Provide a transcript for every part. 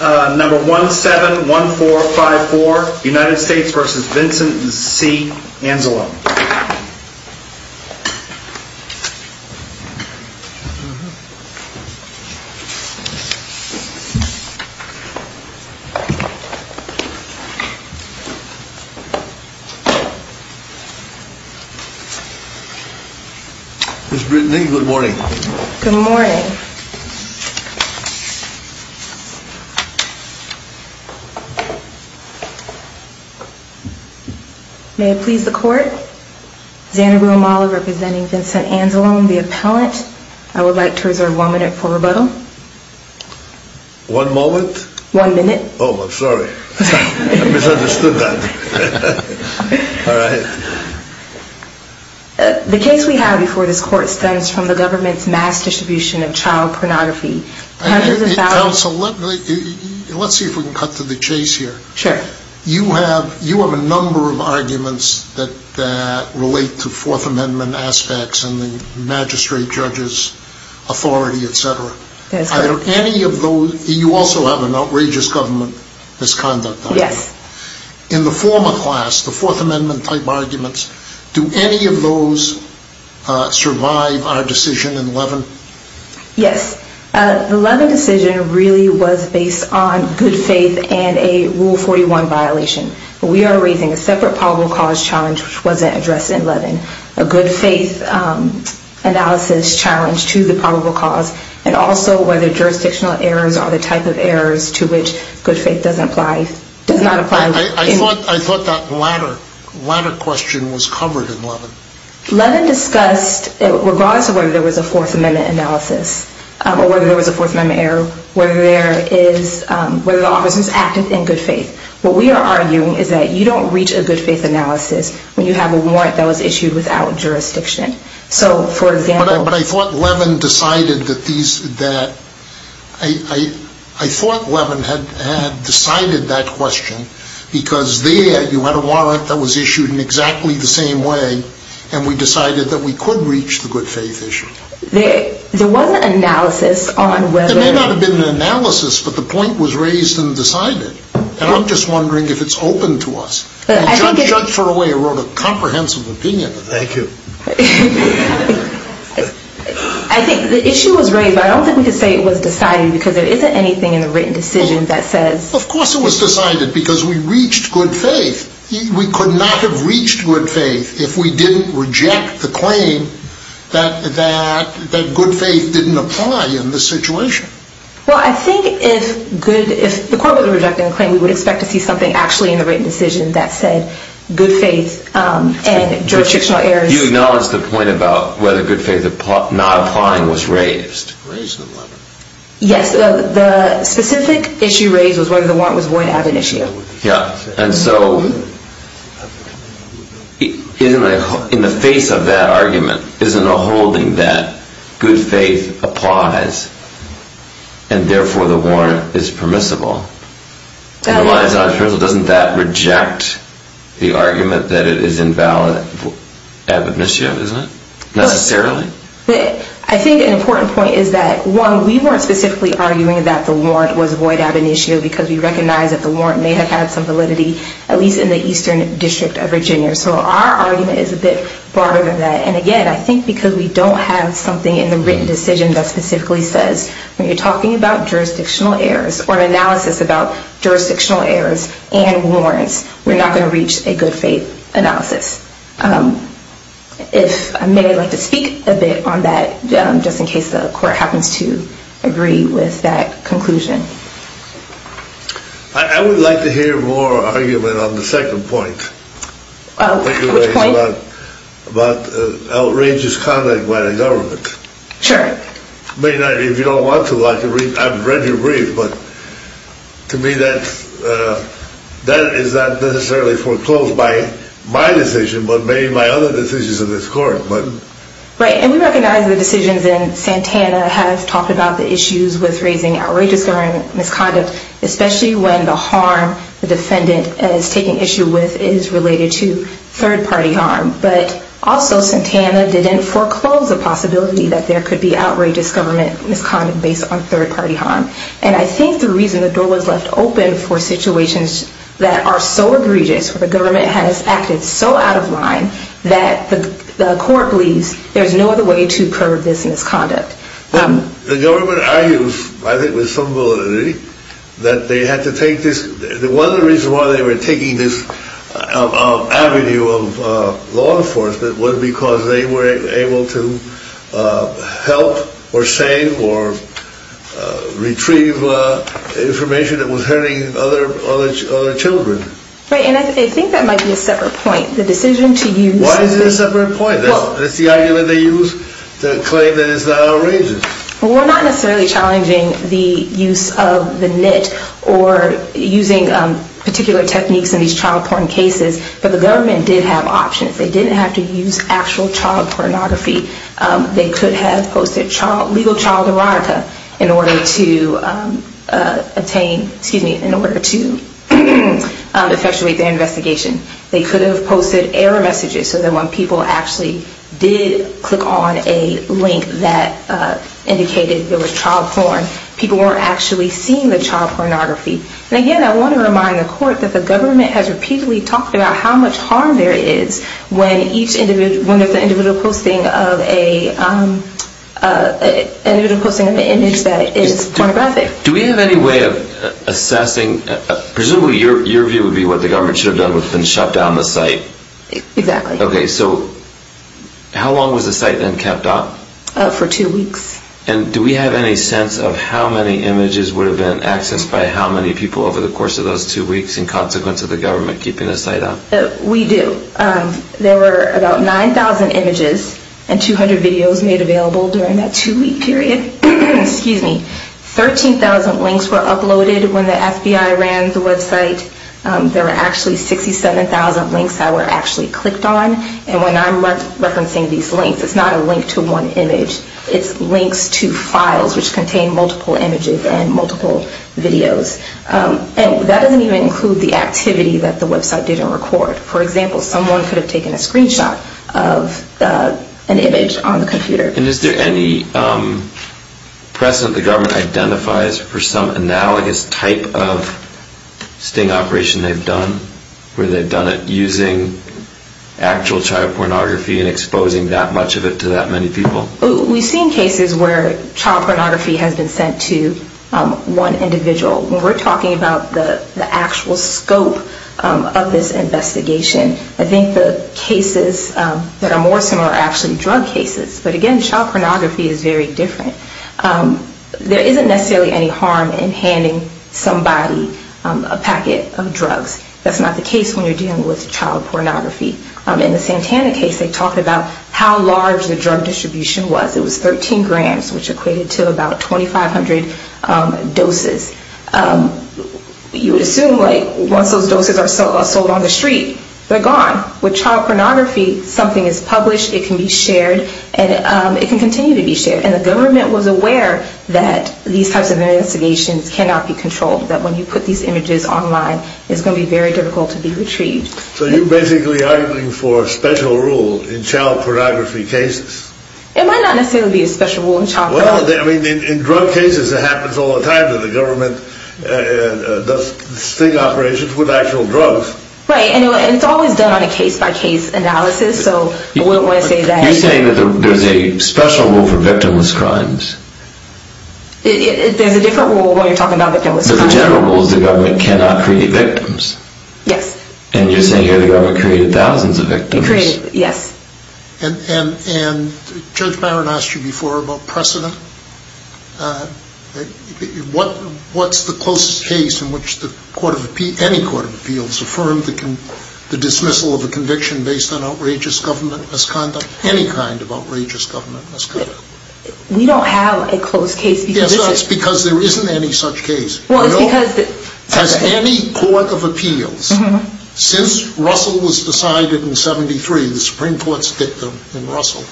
Number 171454, United States v. Vincent C. Anzalone. Ms. Brittany, good morning. Good morning. May I please the court? Xanabu Amala representing Vincent Anzalone, the appellant. I would like to reserve one minute for rebuttal. One moment? One minute. Oh, I'm sorry. I misunderstood that. All right. The case we have before this court stems from the government's mass distribution of child pornography. Counsel, let's see if we can cut to the chase here. Sure. You have a number of arguments that relate to Fourth Amendment aspects and the magistrate, judges, authority, etc. That's correct. You also have an outrageous government misconduct argument. Yes. In the former class, the Fourth Amendment type arguments, do any of those survive our decision in 11? Yes. The 11 decision really was based on good faith and a Rule 41 violation. We are raising a separate probable cause challenge which wasn't addressed in 11. A good faith analysis challenge to the probable cause and also whether jurisdictional errors are the type of errors to which good faith does not apply. I thought that latter question was covered in 11. 11 discussed, regardless of whether there was a Fourth Amendment analysis or whether there was a Fourth Amendment error, whether the office was active in good faith. What we are arguing is that you don't reach a good faith analysis when you have a warrant that was issued without jurisdiction. I thought 11 had decided that question because there you had a warrant that was issued in exactly the same way and we decided that we could reach the good faith issue. There wasn't an analysis on whether... There may not have been an analysis, but the point was raised and decided. And I'm just wondering if it's open to us. Judge Judt for a way wrote a comprehensive opinion. Thank you. I think the issue was raised, but I don't think we can say it was decided because there isn't anything in the written decision that says... Of course it was decided because we reached good faith. We could not have reached good faith if we didn't reject the claim that good faith didn't apply in this situation. Well, I think if the court would have rejected the claim, we would expect to see something actually in the written decision that said good faith and jurisdictional errors... You acknowledge the point about whether good faith not applying was raised. Raised in 11. Yes, the specific issue raised was whether the warrant was going to have an issue. And so in the face of that argument, isn't a holding that good faith applies and therefore the warrant is permissible? Doesn't that reject the argument that it is invalid ab initio, isn't it? Necessarily? I think an important point is that one, we weren't specifically arguing that the warrant was void ab initio because we recognize that the warrant may have had some validity, at least in the eastern district of Virginia. So our argument is a bit broader than that. And again, I think because we don't have something in the written decision that specifically says, when you're talking about jurisdictional errors or analysis about jurisdictional errors and warrants, we're not going to reach a good faith analysis. If I may, I'd like to speak a bit on that, just in case the court happens to agree with that conclusion. I would like to hear more argument on the second point. Which point? About outrageous conduct by the government. Sure. If you don't want to, I'm ready to read, but to me that is not necessarily foreclosed by my decision, but maybe my other decisions in this court. Right, and we recognize the decisions in Santana have talked about the issues with raising outrageous misconduct, especially when the harm the defendant is taking issue with is related to third-party harm. But also Santana didn't foreclose the possibility that there could be outrageous government misconduct based on third-party harm. And I think the reason the door was left open for situations that are so egregious, where the government has acted so out of line, that the court believes there's no other way to curb this misconduct. The government argues, I think with some validity, that one of the reasons they were taking this avenue of law enforcement was because they were able to help or save or retrieve information that was hurting other children. Right, and I think that might be a separate point. Why is it a separate point? That's the argument they use to claim that it's not outrageous. Well, we're not necessarily challenging the use of the NITT or using particular techniques in these child porn cases, but the government did have options. They didn't have to use actual child pornography. They could have posted legal child erotica in order to effectuate their investigation. They could have posted error messages so that when people actually did click on a link that indicated there was child porn, people weren't actually seeing the child pornography. And again, I want to remind the court that the government has repeatedly talked about how much harm there is when each individual, when there's an individual posting of an image that is pornographic. Do we have any way of assessing, presumably your view would be what the government should have done would have been shut down the site? Exactly. Okay, so how long was the site then kept up? For two weeks. And do we have any sense of how many images would have been accessed by how many people over the course of those two weeks in consequence of the government keeping the site up? We do. There were about 9,000 images and 200 videos made available during that two-week period. 13,000 links were uploaded when the FBI ran the website. There were actually 67,000 links that were actually clicked on. And when I'm referencing these links, it's not a link to one image. It's links to files which contain multiple images and multiple videos. And that doesn't even include the activity that the website didn't record. For example, someone could have taken a screenshot of an image on the computer. And is there any precedent the government identifies for some analogous type of sting operation they've done where they've done it using actual child pornography and exposing that much of it to that many people? We've seen cases where child pornography has been sent to one individual. When we're talking about the actual scope of this investigation, I think the cases that are more similar are actually drug cases. But again, child pornography is very different. There isn't necessarily any harm in handing somebody a packet of drugs. That's not the case when you're dealing with child pornography. In the Santana case, they talked about how large the drug distribution was. It was 13 grams, which equated to about 2,500 doses. You would assume, like, once those doses are sold on the street, they're gone. With child pornography, something is published, it can be shared, and it can continue to be shared. And the government was aware that these types of investigations cannot be controlled, that when you put these images online, it's going to be very difficult to be retrieved. So you're basically arguing for a special rule in child pornography cases? It might not necessarily be a special rule in child pornography. Well, I mean, in drug cases, it happens all the time that the government does sting operations with actual drugs. Right, and it's always done on a case-by-case analysis, so I wouldn't want to say that. You're saying that there's a special rule for victimless crimes? There's a different rule when you're talking about victimless crimes. But the general rule is the government cannot create victims? Yes. And you're saying here the government created thousands of victims? It created, yes. And Judge Byron asked you before about precedent. What's the closest case in which any court of appeals affirmed the dismissal of a conviction based on outrageous government misconduct? Any kind of outrageous government misconduct. We don't have a close case. Yes, that's because there isn't any such case. Has any court of appeals, since Russell was decided in 1973, the Supreme Court's dictum in Russell,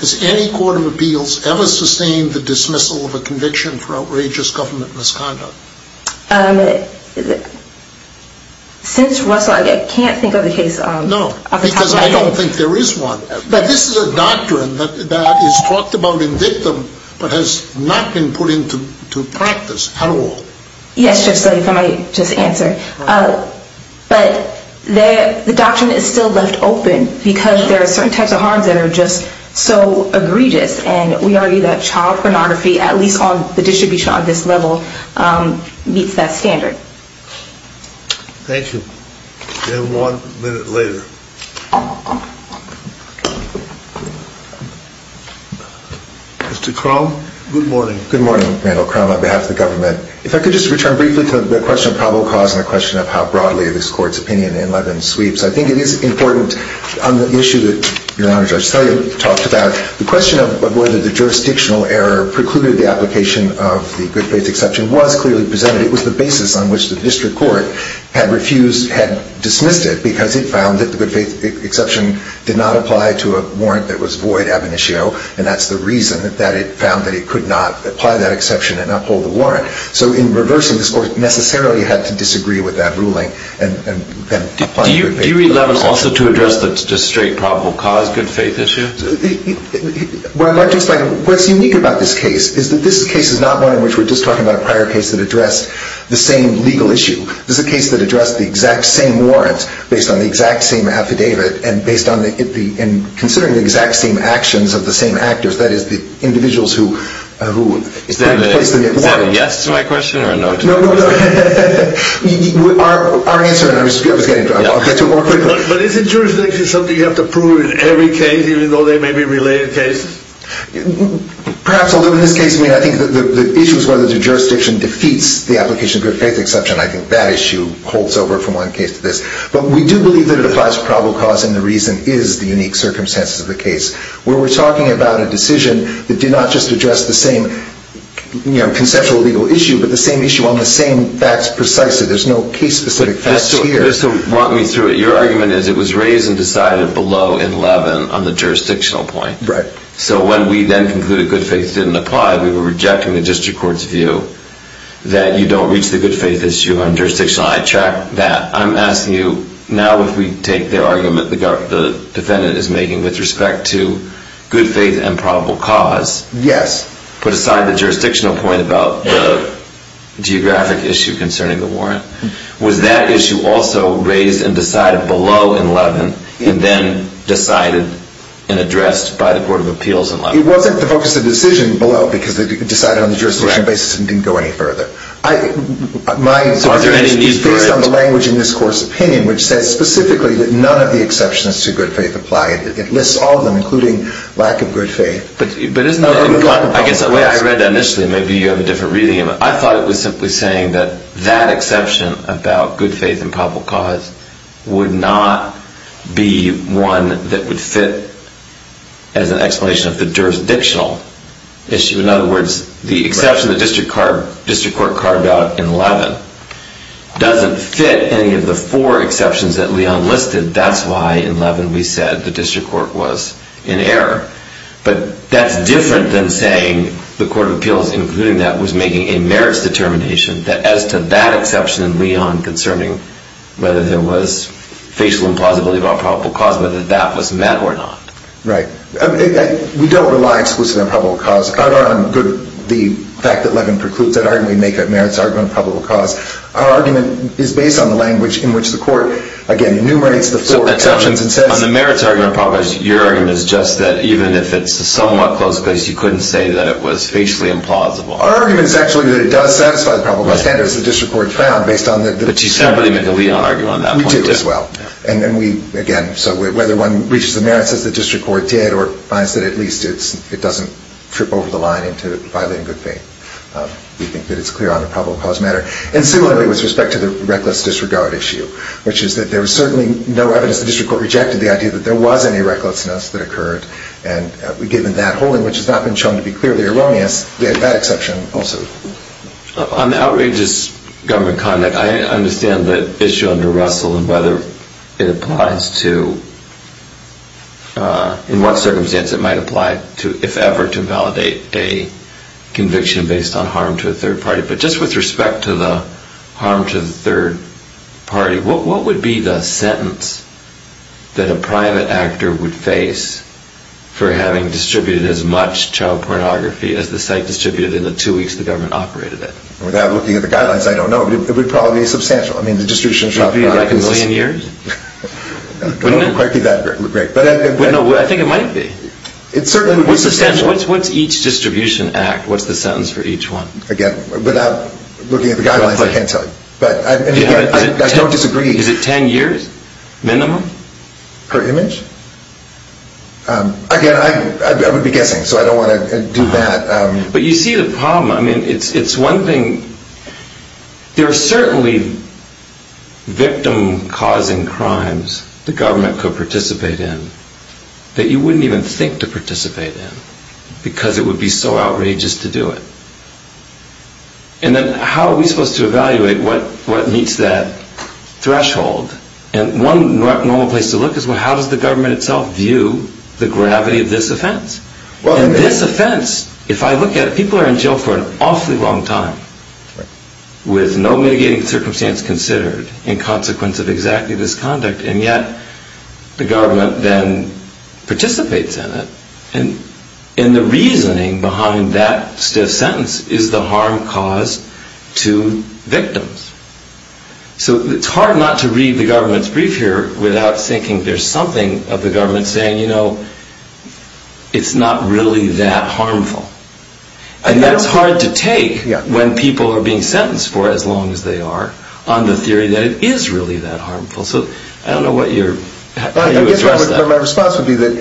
has any court of appeals ever sustained the dismissal of a conviction for outrageous government misconduct? Since Russell, I can't think of a case off the top of my head. No, because I don't think there is one. But this is a doctrine that is talked about in dictum, but has not been put into practice at all. Yes, Judge Sully, if I might just answer. But the doctrine is still left open because there are certain types of harms that are just so egregious, and we argue that child pornography, at least on the distribution on this level, meets that standard. Thank you. We have one minute later. Mr. Crum, good morning. Good morning, Randall Crum, on behalf of the government. If I could just return briefly to the question of probable cause and the question of how broadly this Court's opinion in Levin sweeps. I think it is important on the issue that Your Honor, Judge Sully talked about, the question of whether the jurisdictional error precluded the application of the good faith exception was clearly presented. It was the basis on which the district court had refused, had dismissed it, because it found that the good faith exception did not apply to a warrant that was void ab initio, and that's the reason that it found that it could not apply that exception and uphold the warrant. So in reversing this Court, it necessarily had to disagree with that ruling and apply the good faith exception. Do you read Levin's lawsuit to address the just straight probable cause good faith issue? What's unique about this case is that this case is not one in which we're just talking about a prior case that addressed the same legal issue. This is a case that addressed the exact same warrants based on the exact same affidavit and considering the exact same actions of the same actors, that is, the individuals who put in place the warrant. Is that a yes to my question or a no to my question? No, no, no. Our answer, and I was getting to it, I'll get to it more quickly. But isn't jurisdiction something you have to prove in every case, even though they may be related cases? Perhaps a little in this case. I mean, I think the issue is whether the jurisdiction defeats the application of good faith exception. I think that issue holds over from one case to this. But we do believe that it applies to probable cause, and the reason is the unique circumstances of the case. Where we're talking about a decision that did not just address the same conceptual legal issue, but the same issue on the same facts precisely. There's no case-specific facts here. So walk me through it. Your argument is it was raised and decided below in Levin on the jurisdictional point. Right. So when we then concluded good faith didn't apply, we were rejecting the district court's view that you don't reach the good faith issue on jurisdictional. I checked that. I'm asking you now if we take the argument the defendant is making with respect to good faith and probable cause. Yes. Put aside the jurisdictional point about the geographic issue concerning the warrant. Was that issue also raised and decided below in Levin, and then decided and addressed by the court of appeals in Levin? It wasn't the focus of the decision below, because it was decided on the jurisdictional basis and didn't go any further. So are there any new variants? It's based on the language in this court's opinion, which says specifically that none of the exceptions to good faith apply. It lists all of them, including lack of good faith. But isn't that, I guess the way I read that initially, maybe you have a different reading. I thought it was simply saying that that exception about good faith and probable cause would not be one that would fit as an explanation of the jurisdictional issue. In other words, the exception the district court carved out in Levin doesn't fit any of the four exceptions that Leon listed. That's why in Levin we said the district court was in error. But that's different than saying the court of appeals, including that, was making a merits determination that as to that exception in Leon concerning whether there was facial implausibility about probable cause, whether that was met or not. Right. We don't rely exclusively on probable cause. The fact that Levin precludes that argument, we make a merits argument of probable cause. Our argument is based on the language in which the court, again, enumerates the four exceptions and says On the merits argument of probable cause, your argument is just that even if it's a somewhat close case, you couldn't say that it was facially implausible. Our argument is actually that it does satisfy the probable cause standards the district court found based on the But you separately make a Leon argument on that point. We did as well. Again, so whether one reaches the merits as the district court did or finds that at least it doesn't trip over the line into violating good faith, we think that it's clear on the probable cause matter. And similarly with respect to the reckless disregard issue, which is that there was certainly no evidence the district court rejected the idea that there was any recklessness that occurred. And given that whole language has not been shown to be clearly erroneous, we had that exception also. On the outrageous government conduct, I understand the issue under Russell and whether it applies to in what circumstance it might apply to, if ever, to validate a conviction based on harm to a third party. But just with respect to the harm to the third party, what would be the sentence that a private actor would face for having distributed as much child pornography as the site distributed in the two weeks the government operated it? Without looking at the guidelines, I don't know. It would probably be substantial. It would be like a million years? It wouldn't quite be that great. I think it might be. It certainly would be substantial. What's each distribution act? What's the sentence for each one? Again, without looking at the guidelines, I can't tell you. I don't disagree. Is it ten years minimum? Per image? Again, I would be guessing, so I don't want to do that. But you see the problem. It's one thing. There are certainly victim-causing crimes the government could participate in that you wouldn't even think to participate in because it would be so outrageous to do it. And then how are we supposed to evaluate what meets that threshold? And one normal place to look is how does the government itself view the gravity of this offense? And this offense, if I look at it, people are in jail for an awfully long time with no mitigating circumstance considered in consequence of exactly this conduct, and yet the government then participates in it. And the reasoning behind that stiff sentence is the harm caused to victims. So it's hard not to read the government's brief here without thinking there's something of the government saying, you know, it's not really that harmful. And that's hard to take when people are being sentenced for as long as they are on the theory that it is really that harmful. So I don't know how you address that. My response would be that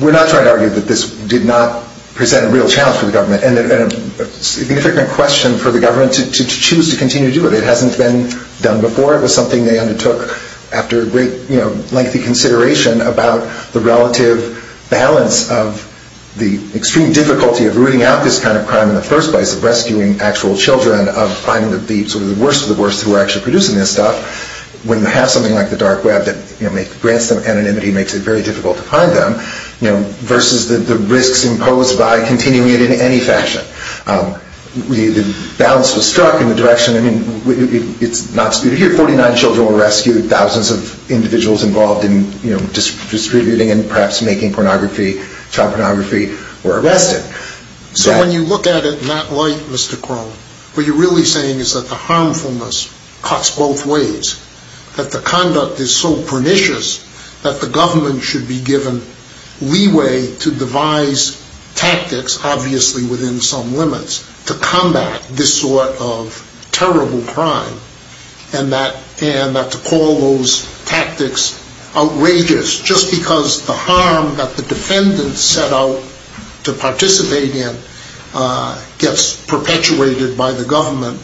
we're not trying to argue that this did not present a real challenge for the government and a significant question for the government to choose to continue to do it. It hasn't been done before. It was something they undertook after a great, lengthy consideration about the relative balance of the extreme difficulty of rooting out this kind of crime in the first place, of rescuing actual children, of finding the worst of the worst who are actually producing this stuff, when you have something like the dark web that grants them anonymity and makes it very difficult to find them, you know, versus the risks imposed by continuing it in any fashion. The balance was struck in the direction, I mean, 49 children were rescued, thousands of individuals involved in distributing and perhaps making pornography, child pornography, were arrested. So when you look at it in that light, Mr. Crowe, what you're really saying is that the harmfulness cuts both ways, that the conduct is so pernicious that the government should be given leeway to devise tactics, obviously within some limits, to combat this sort of terrible crime, and that to call those tactics outrageous just because the harm that the defendants set out to participate in gets perpetuated by the government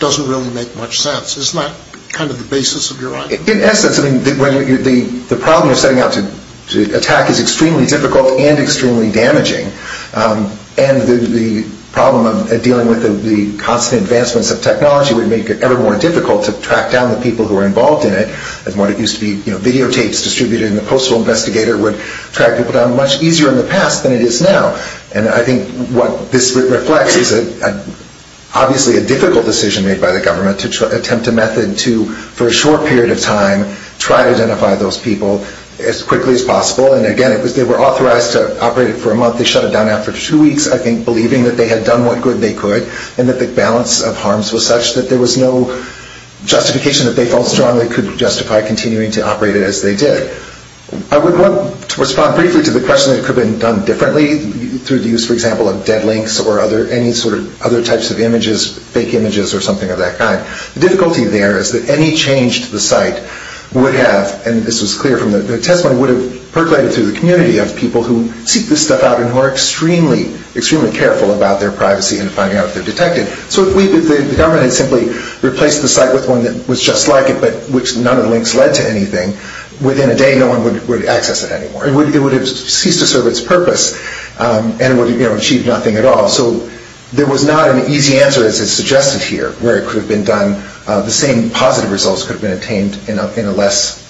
doesn't really make much sense. Isn't that kind of the basis of your argument? In essence, I mean, the problem you're setting out to attack is extremely difficult and extremely damaging, and the problem of dealing with the constant advancements of technology would make it ever more difficult to track down the people who are involved in it, and what used to be videotapes distributed in the Postal Investigator would track people down much easier in the past than it is now. And I think what this reflects is obviously a difficult decision made by the government to attempt a method to, for a short period of time, try to identify those people as quickly as possible. And again, they were authorized to operate it for a month. They shut it down after two weeks, I think, believing that they had done what good they could and that the balance of harms was such that there was no justification that they felt strongly could justify continuing to operate it as they did. I would want to respond briefly to the question that it could have been done differently through the use, for example, of dead links or any sort of other types of images, fake images or something of that kind. The difficulty there is that any change to the site would have, and this was clear from the testimony, would have percolated through the community of people who seek this stuff out and who are extremely, extremely careful about their privacy and finding out if they're detected. So if the government had simply replaced the site with one that was just like it but which none of the links led to anything, within a day no one would access it anymore. It would have ceased to serve its purpose and would have achieved nothing at all. So there was not an easy answer, as is suggested here, where it could have been done. The same positive results could have been obtained in a less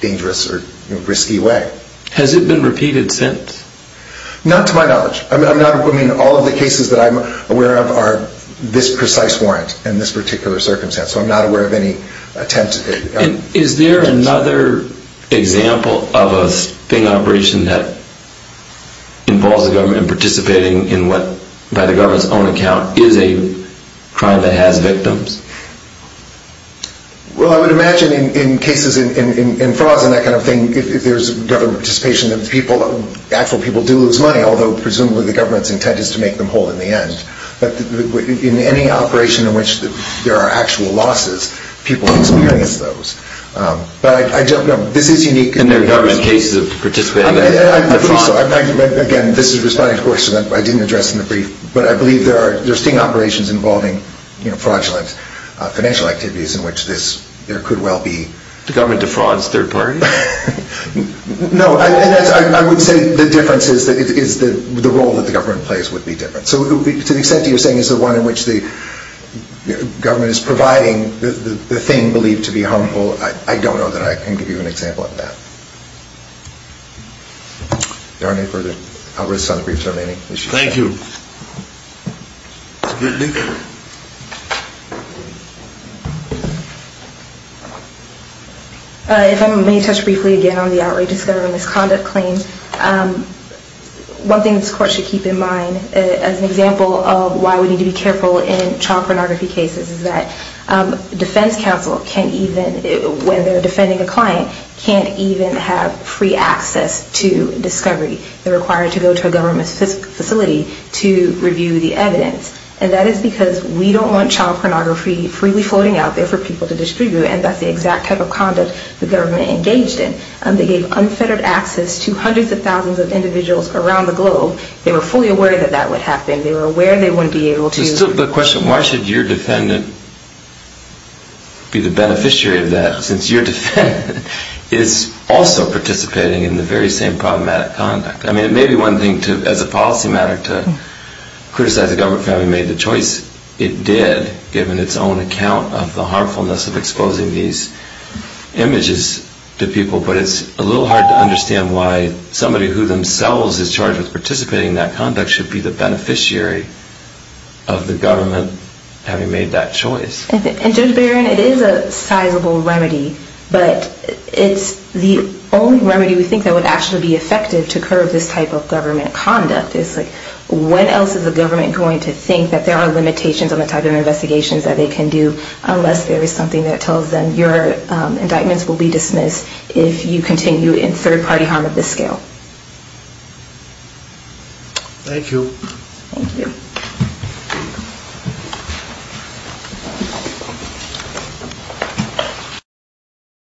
dangerous or risky way. Has it been repeated since? Not to my knowledge. I mean, all of the cases that I'm aware of are this precise warrant in this particular circumstance. So I'm not aware of any attempt. Is there another example of a sting operation that involves the government participating in what, by the government's own account, is a crime that has victims? Well, I would imagine in cases, in frauds and that kind of thing, if there's government participation, actual people do lose money, although presumably the government's intent is to make them whole in the end. But in any operation in which there are actual losses, people lose money as those. But I don't know. This is unique. And there are government cases of participating? I believe so. Again, this is responding to a question that I didn't address in the brief. But I believe there are sting operations involving fraudulent financial activities in which there could well be. The government defrauds third parties? No, I would say the difference is that the role that the government plays would be different. So to the extent that you're saying it's the one in which the government is providing the thing believed to be harmful, I don't know that I can give you an example of that. Are there any further comments on the briefs remaining? Thank you. If I may touch briefly again on the outrageous government misconduct claim, one thing this court should keep in mind as an example of why we need to be careful in child pornography cases is that defense counsel, when they're defending a client, can't even have free access to discovery. They're required to go to a government facility to review the evidence. And that is because we don't want child pornography freely floating out there for people to distribute, and that's the exact type of conduct the government engaged in. They gave unfettered access to hundreds of thousands of individuals around the globe. They were fully aware that that would happen. They were aware they wouldn't be able to. There's still the question, why should your defendant be the beneficiary of that, since your defendant is also participating in the very same problematic conduct? I mean, it may be one thing as a policy matter to criticize the government for having made the choice. It did, given its own account of the harmfulness of exposing these images to people, but it's a little hard to understand why somebody who themselves is charged with participating in that conduct should be the beneficiary of the government having made that choice. And Judge Barron, it is a sizable remedy, but it's the only remedy we think that would actually be effective to curb this type of government conduct. It's like, when else is the government going to think that there are limitations on the type of investigations that they can do unless there is something that tells them your indictments will be dismissed if you continue in third-party harm of this scale. Thank you. Thank you.